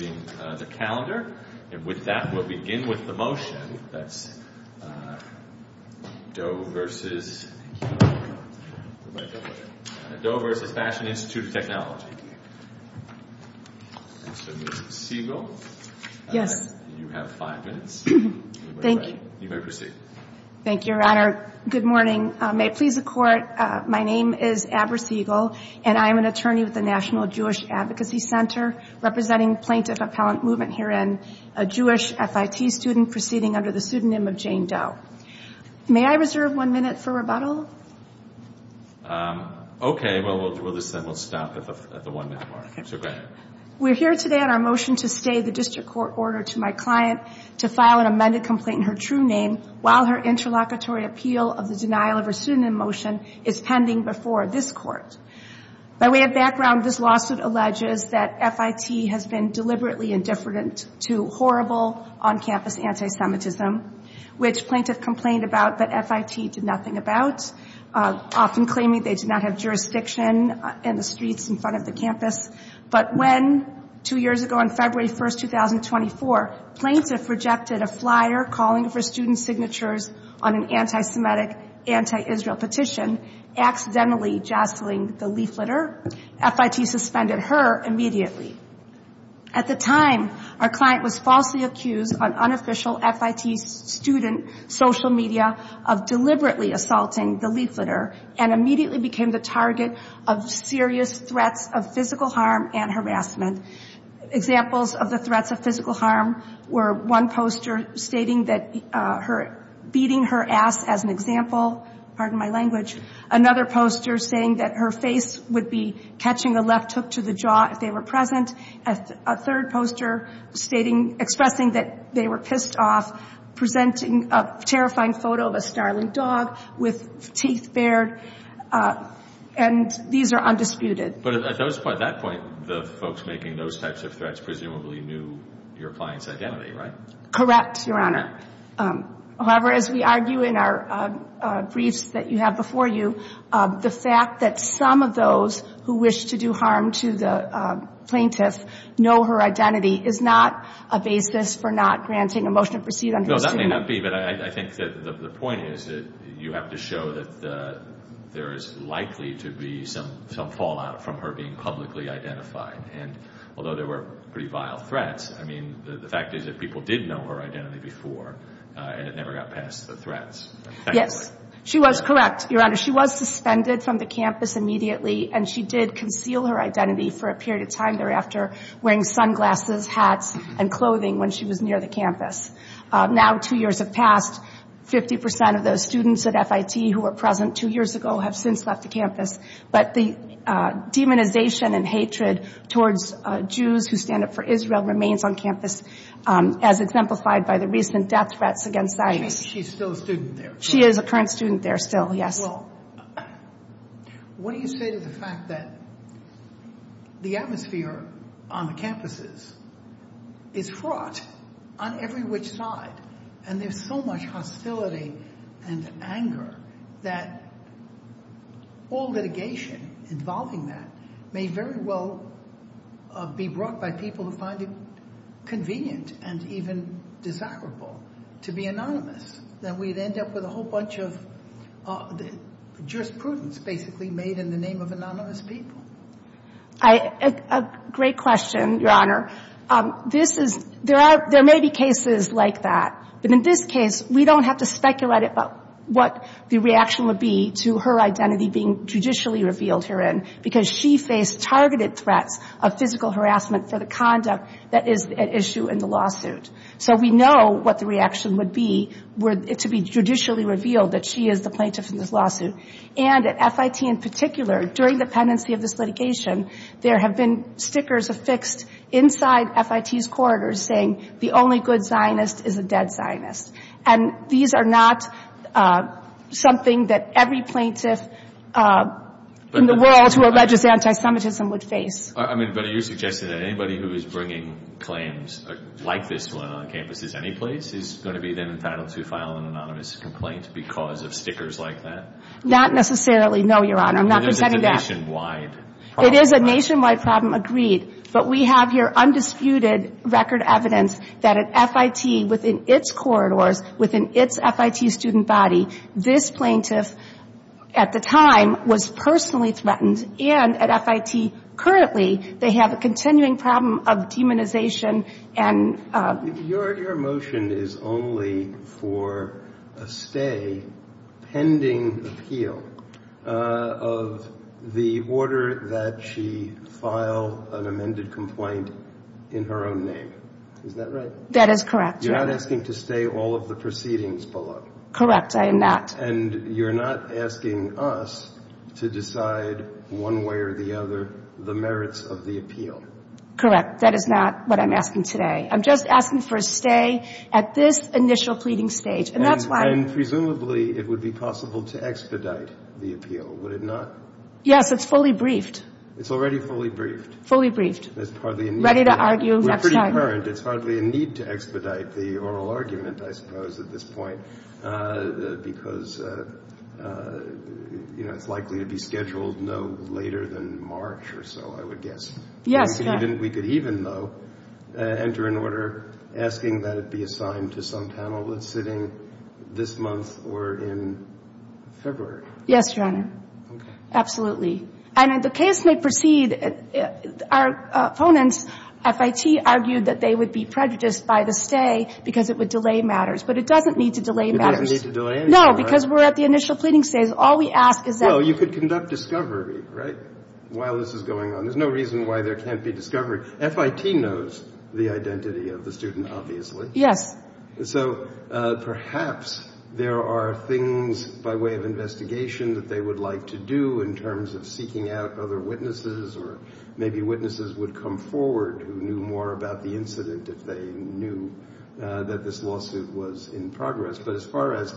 May it please the Court, my name is Abra Siegel and I am an attorney with the National Jewish Advocacy Center representing plaintiffs of the Jewish Appellate Movement herein, a Jewish FIT student proceeding under the pseudonym of Jane Doe. May I reserve one minute for rebuttal? Okay, we'll stop at the one minute mark. We're here today on our motion to stay the district court ordered to my client to file an amended complaint in her true name while her interlocutory appeal of the denial of her pseudonym motion is pending before this court. By way of background, this lawsuit alleges that FIT has been deliberately indifferent to horrible on-campus anti-Semitism, which plaintiff complained about that FIT did nothing about, often claiming they did not have jurisdiction in the streets in front of the campus. But when, two years ago on February 1, 2024, plaintiff rejected a flyer calling for student signatures on an anti-Semitic, anti-Israel petition, accidentally jostling the leafleter, FIT suspended her immediately. At the time, our client was falsely accused on unofficial FIT student social media of deliberately assaulting the leafleter, and immediately became the target of serious threats of physical harm and harassment. Examples of the threats of physical harm were one poster stating that beating her ass as an example, pardon my language, another poster saying that her face would be catching a left hook to the jaw if they were present, a third poster stating, expressing that they were pissed off, presenting a terrifying photo of a snarling dog with teeth bared, and these are undisputed. But at that point, the folks making those types of threats presumably knew your client's identity, right? Correct, Your Honor. And I think that's a good point, too. The fact that some of those who wish to do harm to the plaintiff know her identity is not a basis for not granting a motion to proceed on her student. No, that may not be, but I think that the point is that you have to show that there is likely to be some fallout from her being publicly identified. And although there were pretty vile threats, I mean, the fact is that people did know her identity before, and it never got past the threats. Yes, she was correct, Your Honor. She was suspended from the campus immediately, and she did conceal her identity for a period of time thereafter, wearing sunglasses, hats, and clothing when she was near the campus. Now two years have passed. Fifty percent of those students at FIT who were present two years ago have since left the campus. But the demonization and hatred towards Jews who stand up for Israel remains on campus, as exemplified by the recent death threats against ISIS. She's still a student there. She is a current student there still, yes. Well, what do you say to the fact that the atmosphere on the campuses is fraught on every which side, and there's so much hostility and anger that all litigation involving that may very well be brought by people who find it convenient and even desirable to be anonymous, that we'd end up with a whole bunch of jurisprudence basically made in the name of anonymous people? A great question, Your Honor. There may be cases like that. But in this case, we don't have to speculate about what the reaction would be to her identity being judicially revealed herein, because she faced targeted threats of physical harassment for the conduct that is at issue in the lawsuit. So we know what the reaction would be to be judicially revealed that she is the plaintiff in this lawsuit. And at FIT in particular, during the pendency of this litigation, there have been stickers affixed inside FIT's corridors saying, the only good Zionist is a dead Zionist. And these are not something that every plaintiff in the world who alleges anti-Semitism would face. I mean, but are you suggesting that anybody who is bringing claims like this one on campuses anyplace is going to be then entitled to file an anonymous complaint because of stickers like that? Not necessarily, no, Your Honor. I'm not presenting that. It is a nationwide problem. It is a nationwide problem, agreed. But we have here undisputed record evidence that at FIT within its corridors, within its FIT student body, this plaintiff at the time was personally threatened. And at FIT currently, they have a continuing problem of demonization and — Your motion is only for a stay pending appeal of the order that she file an amended complaint in her own name. Is that right? That is correct, Your Honor. You're not asking to stay all of the proceedings below? Correct. I am not. And you're not asking us to decide one way or the other the merits of the appeal? Correct. That is not what I'm asking today. I'm just asking for a stay at this initial pleading stage. And that's why — And presumably, it would be possible to expedite the appeal, would it not? Yes, it's fully briefed. It's already fully briefed? Fully briefed. That's partly a need. Ready to argue next time. We're pretty current. It's partly a need to expedite the oral argument, I suppose, at this point, because, you know, it's likely to be scheduled no later than March or so, I would guess. Yes, Your Honor. We could even, though, enter an order asking that it be assigned to some panel that's sitting this month or in February. Yes, Your Honor. Okay. Absolutely. And the case may proceed. Our opponents, FIT, argued that they would be prejudiced by the stay because it would delay matters. But it doesn't need to delay matters. It doesn't need to delay anything, right? No, because we're at the initial pleading stage. All we ask is that — Well, you could conduct discovery, right, while this is going on. There's no reason why there can't be discovery. FIT knows the identity of the student, obviously. So perhaps there are things by way of investigation that they would like to do in terms of seeking out other witnesses or maybe witnesses would come forward who knew more about the incident if they knew that this lawsuit was in progress. But as far as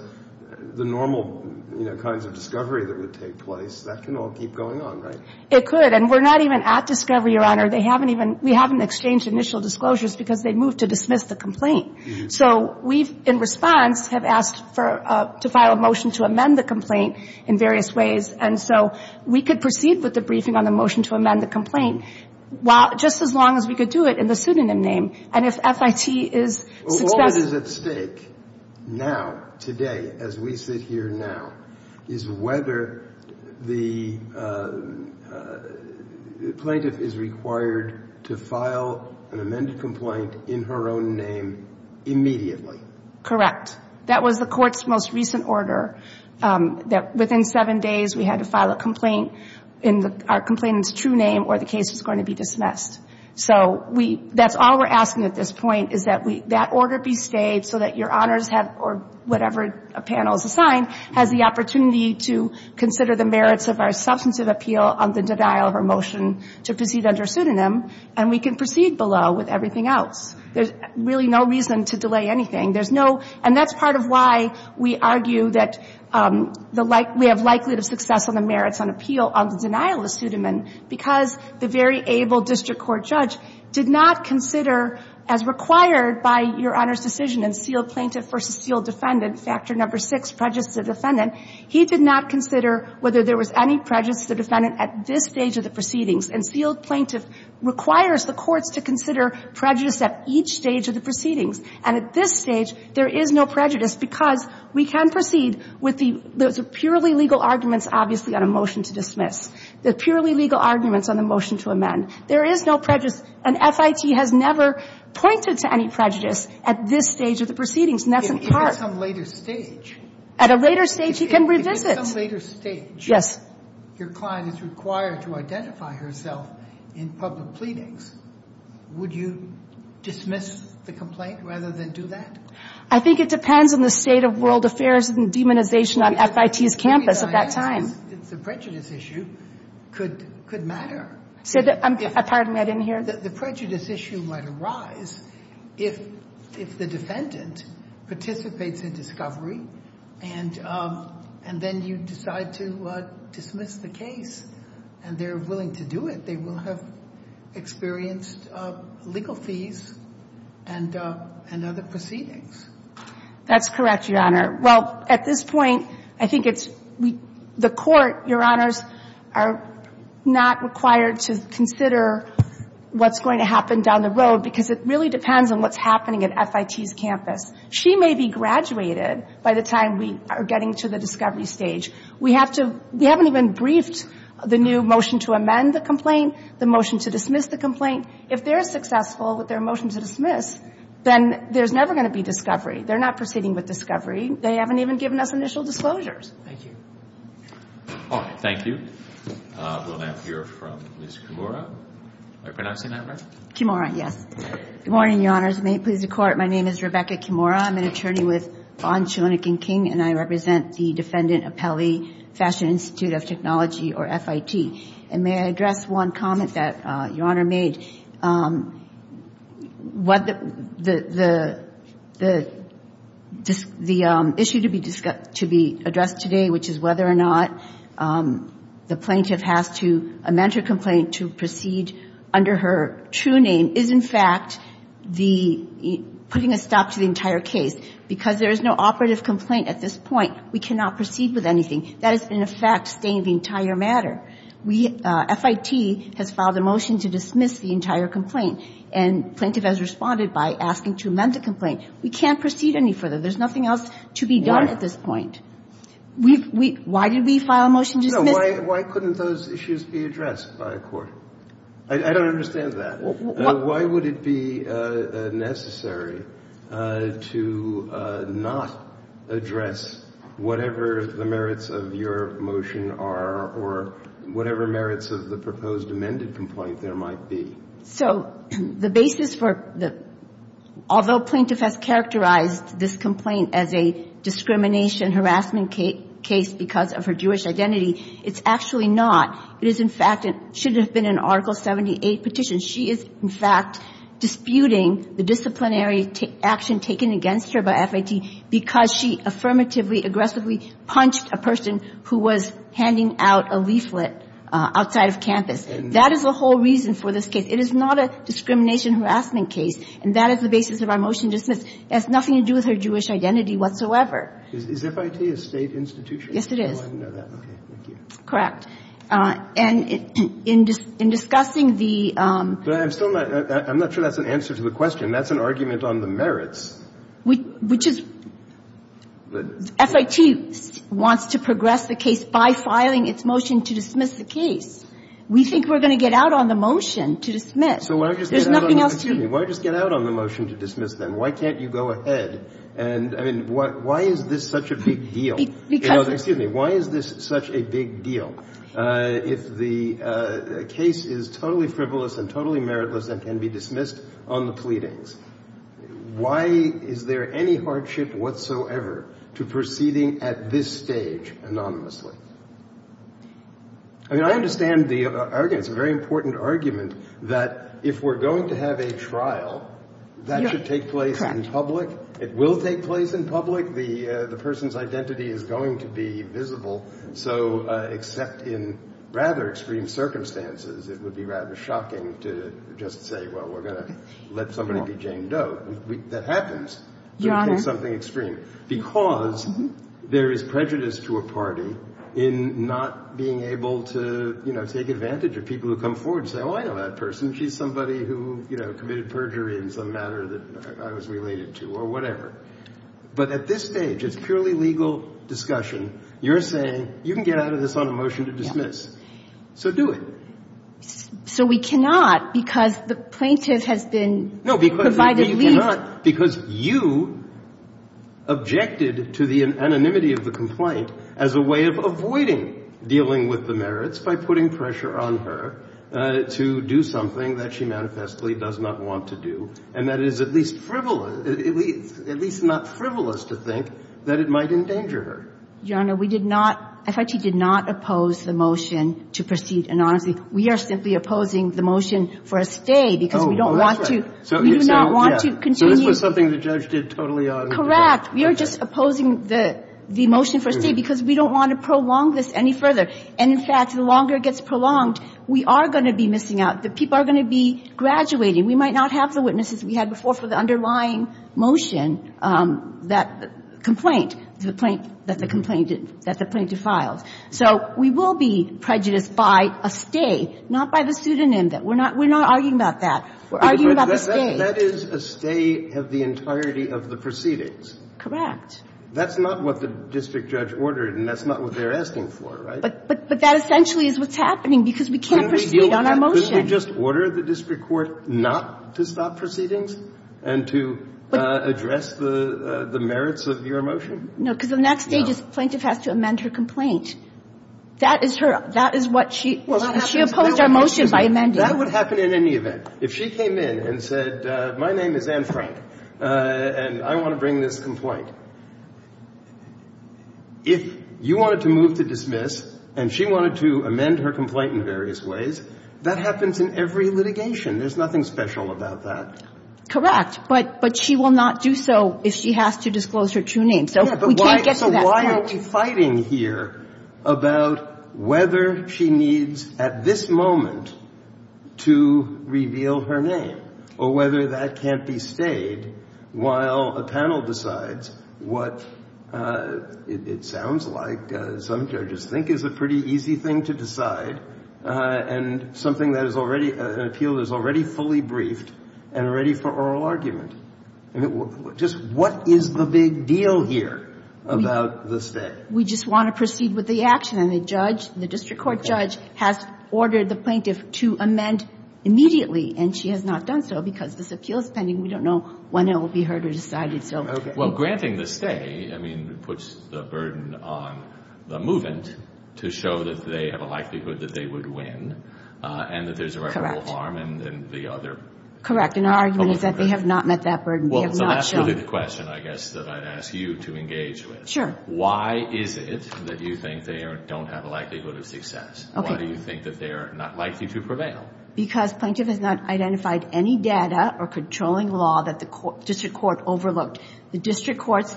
the normal, you know, kinds of discovery that would take place, that can all keep going on, right? It could. And we're not even at discovery, Your Honor. They haven't even — we haven't exchanged initial disclosures because they moved to dismiss the complaint. So we've, in response, have asked for — to file a motion to amend the complaint in various ways. And so we could proceed with the briefing on the motion to amend the complaint just as long as we could do it in the pseudonym name. And if FIT is — All that is at stake now, today, as we sit here now, is whether the plaintiff is required to file an amended complaint in her own name immediately. Correct. That was the Court's most recent order, that within seven days we had to file a complaint in our complainant's true name or the case was going to be dismissed. So we — that's all we're asking at this point, is that we — that order be stayed so that Your Honors have — or whatever panel is assigned has the opportunity to consider the merits of our substantive appeal on the denial of our motion to proceed under pseudonym. And we can proceed below with everything else. There's really no reason to delay anything. There's no — and that's part of why we argue that the — we have likelihood of success on the merits on appeal on the denial of pseudonym. And because the very able district court judge did not consider, as required by Your Honors' decision in sealed plaintiff versus sealed defendant, Factor No. 6, prejudice of defendant, he did not consider whether there was any prejudice of defendant at this stage of the proceedings. And sealed plaintiff requires the courts to consider prejudice at each stage of the proceedings. And at this stage, there is no prejudice because we can proceed with the — those are purely legal arguments, obviously, on a motion to dismiss. They're purely legal arguments on a motion to amend. There is no prejudice. And FIT has never pointed to any prejudice at this stage of the proceedings. And that's in part — If at some later stage — At a later stage, he can revisit. If at some later stage — Yes. — your client is required to identify herself in public pleadings, would you dismiss the complaint rather than do that? I think it depends on the state of world affairs and demonization on FIT's campus at that time. It's a prejudice issue. It could matter. I'm — pardon me. I didn't hear. The prejudice issue might arise if the defendant participates in discovery and then you decide to dismiss the case and they're willing to do it. They will have experienced legal fees and other proceedings. That's correct, Your Honor. Well, at this point, I think it's — the court, Your Honors, are not required to consider what's going to happen down the road because it really depends on what's happening at FIT's campus. She may be graduated by the time we are getting to the discovery stage. We have to — we haven't even briefed the new motion to amend the complaint, the motion to dismiss the complaint. If they're successful with their motion to dismiss, then there's never going to be discovery. They're not proceeding with discovery. They haven't even given us initial disclosures. Thank you. All right. Thank you. We'll now hear from Ms. Kimura. Am I pronouncing that right? Kimura, yes. Good morning, Your Honors. May it please the Court. My name is Rebecca Kimura. I'm an attorney with Vaughn, Schoenig, and King, and I represent the Defendant Appellee Fashion Institute of Technology, or FIT. And may I address one comment that Your Honor made? The issue to be addressed today, which is whether or not the plaintiff has to amend her complaint to proceed under her true name, is, in fact, putting a stop to the entire case. Because there is no operative complaint at this point, we cannot proceed with anything. That is, in effect, staying the entire matter. FIT has filed a motion to dismiss the entire complaint, and plaintiff has responded by asking to amend the complaint. We can't proceed any further. There's nothing else to be done at this point. Why did we file a motion to dismiss? No, why couldn't those issues be addressed by a court? I don't understand that. Why would it be necessary to not address whatever the merits of your motion are, or whatever merits of the proposed amended complaint there might be? So the basis for the – although plaintiff has characterized this complaint as a discrimination, harassment case because of her Jewish identity, it's actually not. It is, in fact – it should have been an Article 78 petition. She is, in fact, disputing the disciplinary action taken against her by FIT because she affirmatively, aggressively punched a person who was handing out a leaflet outside of campus. That is the whole reason for this case. It is not a discrimination, harassment case. And that is the basis of our motion to dismiss. It has nothing to do with her Jewish identity whatsoever. Is FIT a State institution? Yes, it is. I didn't know that. Thank you. Correct. And in discussing the – But I'm still not – I'm not sure that's an answer to the question. That's an argument on the merits. Which is – FIT wants to progress the case by filing its motion to dismiss the case. We think we're going to get out on the motion to dismiss. So why just get out on – There's nothing else to – Excuse me. Why just get out on the motion to dismiss, then? Why can't you go ahead? And, I mean, why is this such a big deal? Because – Excuse me. Why is this such a big deal? If the case is totally frivolous and totally meritless and can be dismissed on the pleadings, why is there any hardship whatsoever to proceeding at this stage anonymously? I mean, I understand the argument. It's a very important argument that if we're going to have a trial, that should take place in public. It will take place in public. The person's identity is going to be visible. So except in rather extreme circumstances, it would be rather shocking to just say, well, we're going to let somebody be Jane Doe. That happens. Your Honor. Something extreme. Because there is prejudice to a party in not being able to, you know, take advantage of people who come forward and say, oh, I know that person. She's somebody who, you know, committed perjury in some manner that I was related to or whatever. But at this stage, it's purely legal discussion. You're saying you can get out of this on a motion to dismiss. Yes. So do it. So we cannot because the plaintiff has been provided leave. No, because you cannot. Because you objected to the anonymity of the complaint as a way of avoiding dealing with the merits by putting pressure on her to do something that she manifestly does not want to do. And that is at least frivolous, at least not frivolous to think that it might endanger her. Your Honor, we did not, FIT did not oppose the motion to proceed anonymously. We are simply opposing the motion for a stay because we don't want to, we do not want to continue. So this was something the judge did totally out of the box. Correct. We are just opposing the motion for a stay because we don't want to prolong this any further. And in fact, the longer it gets prolonged, we are going to be missing out. The people are going to be graduating. We might not have the witnesses we had before for the underlying motion that complaint that the complaint, that the plaintiff filed. So we will be prejudiced by a stay, not by the pseudonym. We are not arguing about that. We are arguing about the stay. That is a stay of the entirety of the proceedings. Correct. That's not what the district judge ordered and that's not what they are asking for, right? But that essentially is what's happening because we can't proceed on our motion. Didn't they just order the district court not to stop proceedings and to address the merits of your motion? No, because the next stage is the plaintiff has to amend her complaint. That is her, that is what she, she opposed our motion by amending it. That would happen in any event. If she came in and said, my name is Anne Frank and I want to bring this complaint, if you wanted to move to dismiss and she wanted to amend her complaint in various ways, that happens in every litigation. There is nothing special about that. Correct. But she will not do so if she has to disclose her true name. So we can't get to that point. So why are we fighting here about whether she needs at this moment to reveal her name or whether that can't be stayed while a panel decides what it sounds like is a pretty easy thing to decide and something that is already, an appeal that is already fully briefed and ready for oral argument? Just what is the big deal here about the stay? We just want to proceed with the action. And the judge, the district court judge, has ordered the plaintiff to amend immediately and she has not done so because this appeal is pending. We don't know when it will be heard or decided. Well, granting the stay, I mean, puts the burden on the movant to show that they have a likelihood that they would win and that there is a rightful alarm and the other. Correct. And our argument is that they have not met that burden. So that's really the question, I guess, that I would ask you to engage with. Sure. Why is it that you think they don't have a likelihood of success? Why do you think that they are not likely to prevail? Because plaintiff has not identified any data or controlling law that the district court overlooked. The district courts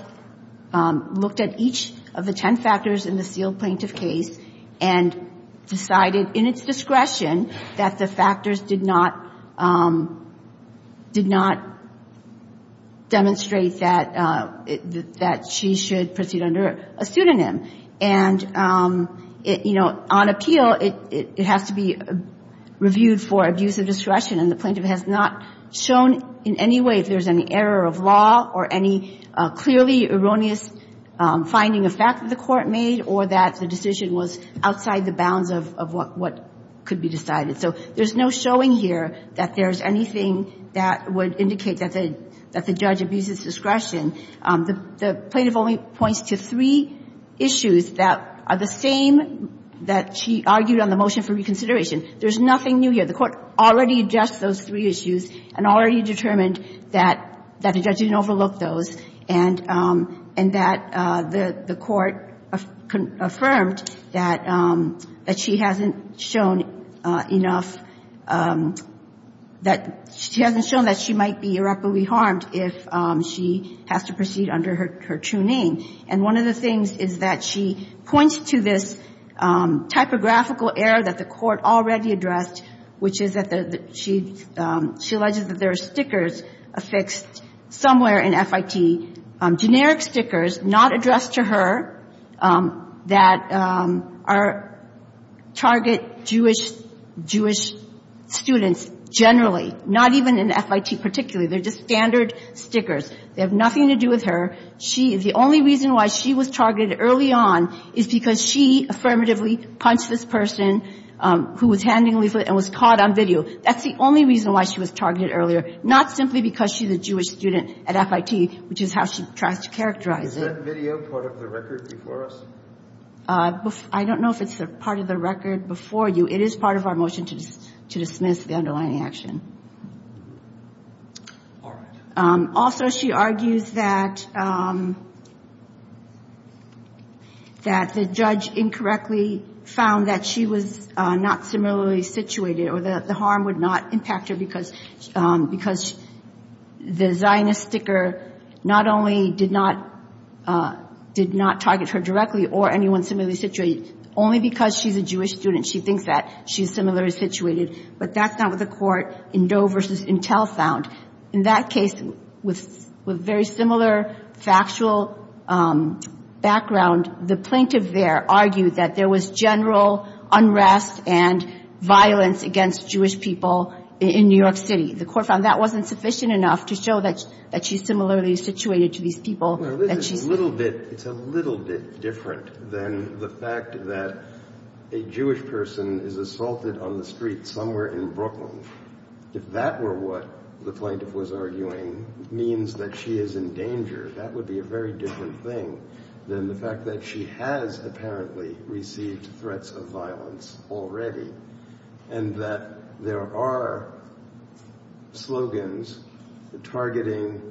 looked at each of the ten factors in the sealed plaintiff case and decided in its discretion that the factors did not, did not demonstrate that she should proceed under a pseudonym. And, you know, on appeal, it has to be reviewed for abuse of discretion. And the plaintiff has not shown in any way if there's any error of law or any clearly erroneous finding of fact that the court made or that the decision was outside the bounds of what could be decided. So there's no showing here that there's anything that would indicate that the judge abuses discretion. The plaintiff only points to three issues that are the same that she argued on the motion for reconsideration. There's nothing new here. The court already addressed those three issues and already determined that the judge didn't overlook those and that the court affirmed that she hasn't shown enough that she hasn't shown that she might be irreparably harmed if she has to proceed under her true name. And one of the things is that she points to this typographical error that the court already addressed, which is that she alleges that there are stickers affixed somewhere in FIT, generic stickers not addressed to her, that are target Jewish students generally, not even in FIT particularly. They're just standard stickers. They have nothing to do with her. The only reason why she was targeted early on is because she affirmatively punched this person who was handingly lit and was caught on video. That's the only reason why she was targeted earlier, not simply because she's a Jewish student at FIT, which is how she tries to characterize it. Is that video part of the record before us? I don't know if it's part of the record before you. It is part of our motion to dismiss the underlying action. All right. Also, she argues that the judge incorrectly found that she was not similarly situated or that the harm would not impact her because the Zionist sticker not only did not target her directly or anyone similarly situated, only because she's a Jewish student, she thinks that she's similarly situated. But that's not what the court in Doe v. Intel found. In that case, with very similar factual background, the plaintiff there argued that there was general unrest and violence against Jewish people in New York City. The court found that wasn't sufficient enough to show that she's similarly situated to these people. Well, it's a little bit different than the fact that a Jewish person is assaulted on the street somewhere in Brooklyn. If that were what the plaintiff was arguing, it means that she is in danger. That would be a very different thing than the fact that she has apparently received threats of violence already and that there are slogans targeting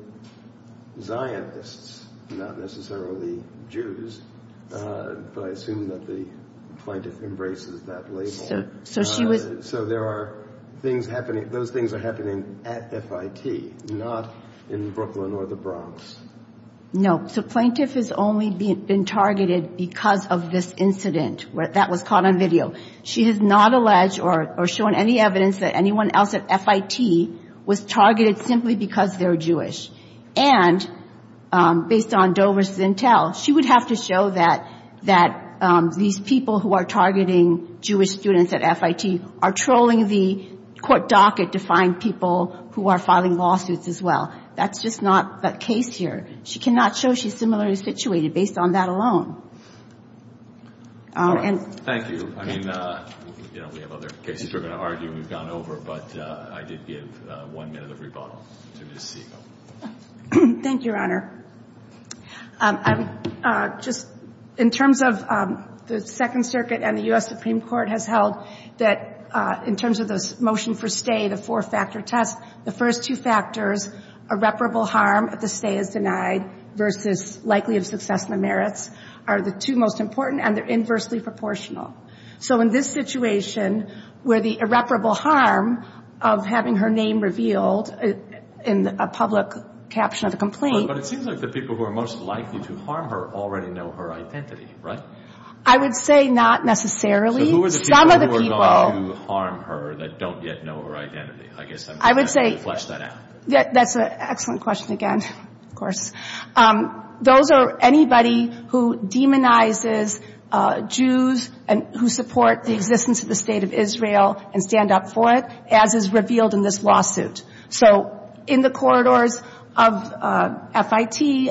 Zionists, not necessarily Jews. But I assume that the plaintiff embraces that label. So those things are happening at FIT, not in Brooklyn or the Bronx. No. The plaintiff has only been targeted because of this incident. That was caught on video. She has not alleged or shown any evidence that anyone else at FIT was targeted simply because they're Jewish. And based on Doe v. Intel, she would have to show that these people who are targeting Jewish students at FIT are trolling the court docket to find people who are filing lawsuits as well. That's just not the case here. She cannot show she's similarly situated based on that alone. Thank you. I mean, you know, we have other cases we're going to argue and we've gone over, but I did give one minute of rebuttal. Thank you, Your Honor. Just in terms of the Second Circuit and the U.S. Supreme Court has held that in terms of the motion for stay, the four-factor test, the first two factors, irreparable harm if the stay is denied versus likely of success in the merits, are the two most important, and they're inversely proportional. So in this situation where the irreparable harm of having her name revealed in a public caption of a complaint. But it seems like the people who are most likely to harm her already know her identity, right? I would say not necessarily. So who are the people who are going to harm her that don't yet know her identity? I guess I'm trying to flesh that out. That's an excellent question again, of course. Those are anybody who demonizes Jews and who support the existence of the State of Israel and stand up for it, as is revealed in this lawsuit. So in the corridors of FIT,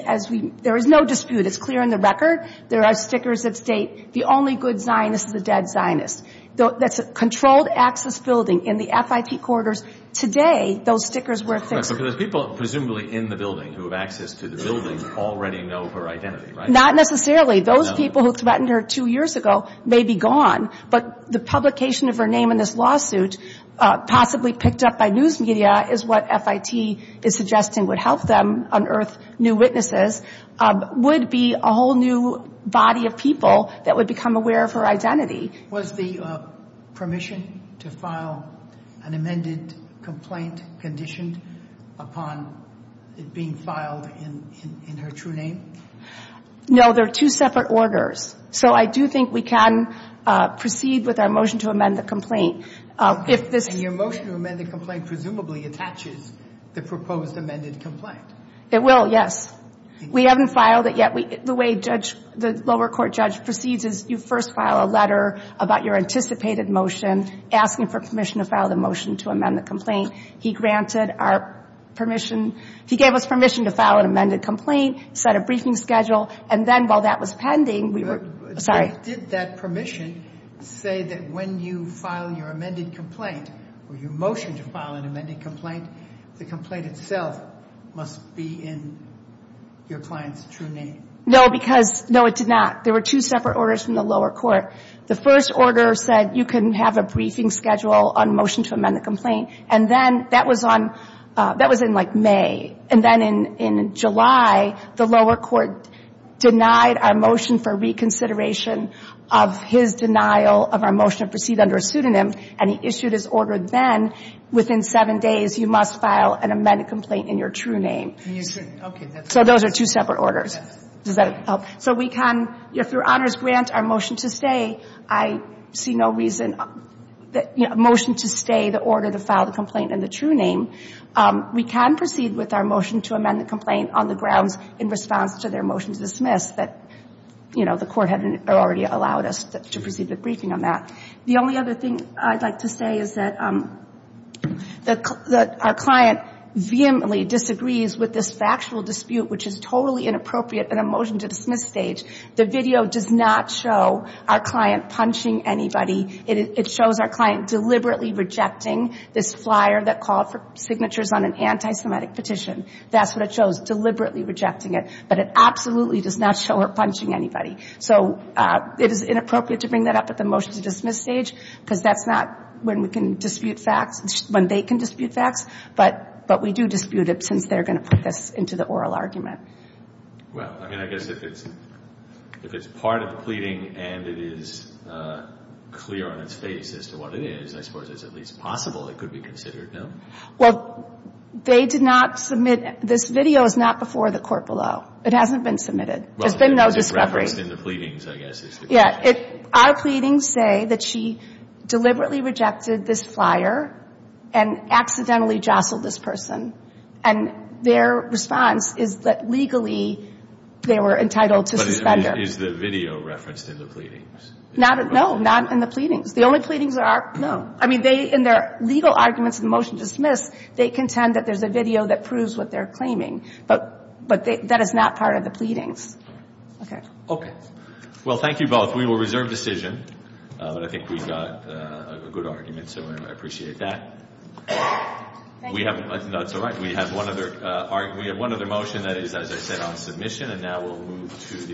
there is no dispute. It's clear in the record. There are stickers that state, the only good Zionist is a dead Zionist. That's a controlled access building in the FIT corridors. Today, those stickers were fixed. But those people presumably in the building who have access to the building already know her identity, right? Not necessarily. Those people who threatened her two years ago may be gone, but the publication of her name in this lawsuit, possibly picked up by news media, is what FIT is suggesting would help them unearth new witnesses, would be a whole new body of people that would become aware of her identity. Was the permission to file an amended complaint conditioned upon it being filed in her true name? No, they're two separate orders. So I do think we can proceed with our motion to amend the complaint. And your motion to amend the complaint presumably attaches the proposed amended complaint. It will, yes. We haven't filed it yet. The way the lower court judge proceeds is you first file a letter about your anticipated motion, asking for permission to file the motion to amend the complaint. He granted our permission. He gave us permission to file an amended complaint, set a briefing schedule, and then while that was pending, we were – sorry. Did that permission say that when you file your amended complaint or your motion to file an amended complaint, the complaint itself must be in your client's true name? No, because – no, it did not. There were two separate orders from the lower court. The first order said you can have a briefing schedule on motion to amend the complaint. And then that was on – that was in, like, May. And then in July, the lower court denied our motion for reconsideration of his denial of our motion to proceed under a pseudonym, and he issued his order then, within seven days you must file an amended complaint in your true name. And you shouldn't. Okay. So those are two separate orders. Yes. Does that help? So we can, through Honors Grant, our motion to stay, I see no reason – motion to stay, the order to file the complaint in the true name. We can proceed with our motion to amend the complaint on the grounds in response to their motion to dismiss that, you know, the court had already allowed us to proceed with briefing on that. The only other thing I'd like to say is that our client vehemently disagrees with this factual dispute, which is totally inappropriate in a motion to dismiss stage. The video does not show our client punching anybody. It shows our client deliberately rejecting this flyer that called for signatures on an anti-Semitic petition. That's what it shows, deliberately rejecting it. But it absolutely does not show her punching anybody. So it is inappropriate to bring that up at the motion to dismiss stage, because that's not when we can dispute facts – when they can dispute facts. But we do dispute it since they're going to put this into the oral argument. Well, I mean, I guess if it's part of the pleading and it is clear on its face as to what it is, I suppose it's at least possible it could be considered, no? Well, they did not submit – this video is not before the court below. It hasn't been submitted. There's been no discovery. Well, it's referenced in the pleadings, I guess, is the question. Yeah. Our pleadings say that she deliberately rejected this flyer and accidentally jostled this person. And their response is that legally they were entitled to suspender. But is the video referenced in the pleadings? No, not in the pleadings. The only pleadings that are – no. I mean, they – in their legal arguments in the motion to dismiss, they contend that there's a video that proves what they're claiming. But that is not part of the pleadings. Okay. Okay. Well, thank you both. We will reserve decision. But I think we've got a good argument, so I appreciate that. Thank you. Well, we have – that's all right. We have one other – we have one other motion that is, as I said, on submission. And now we'll move to the –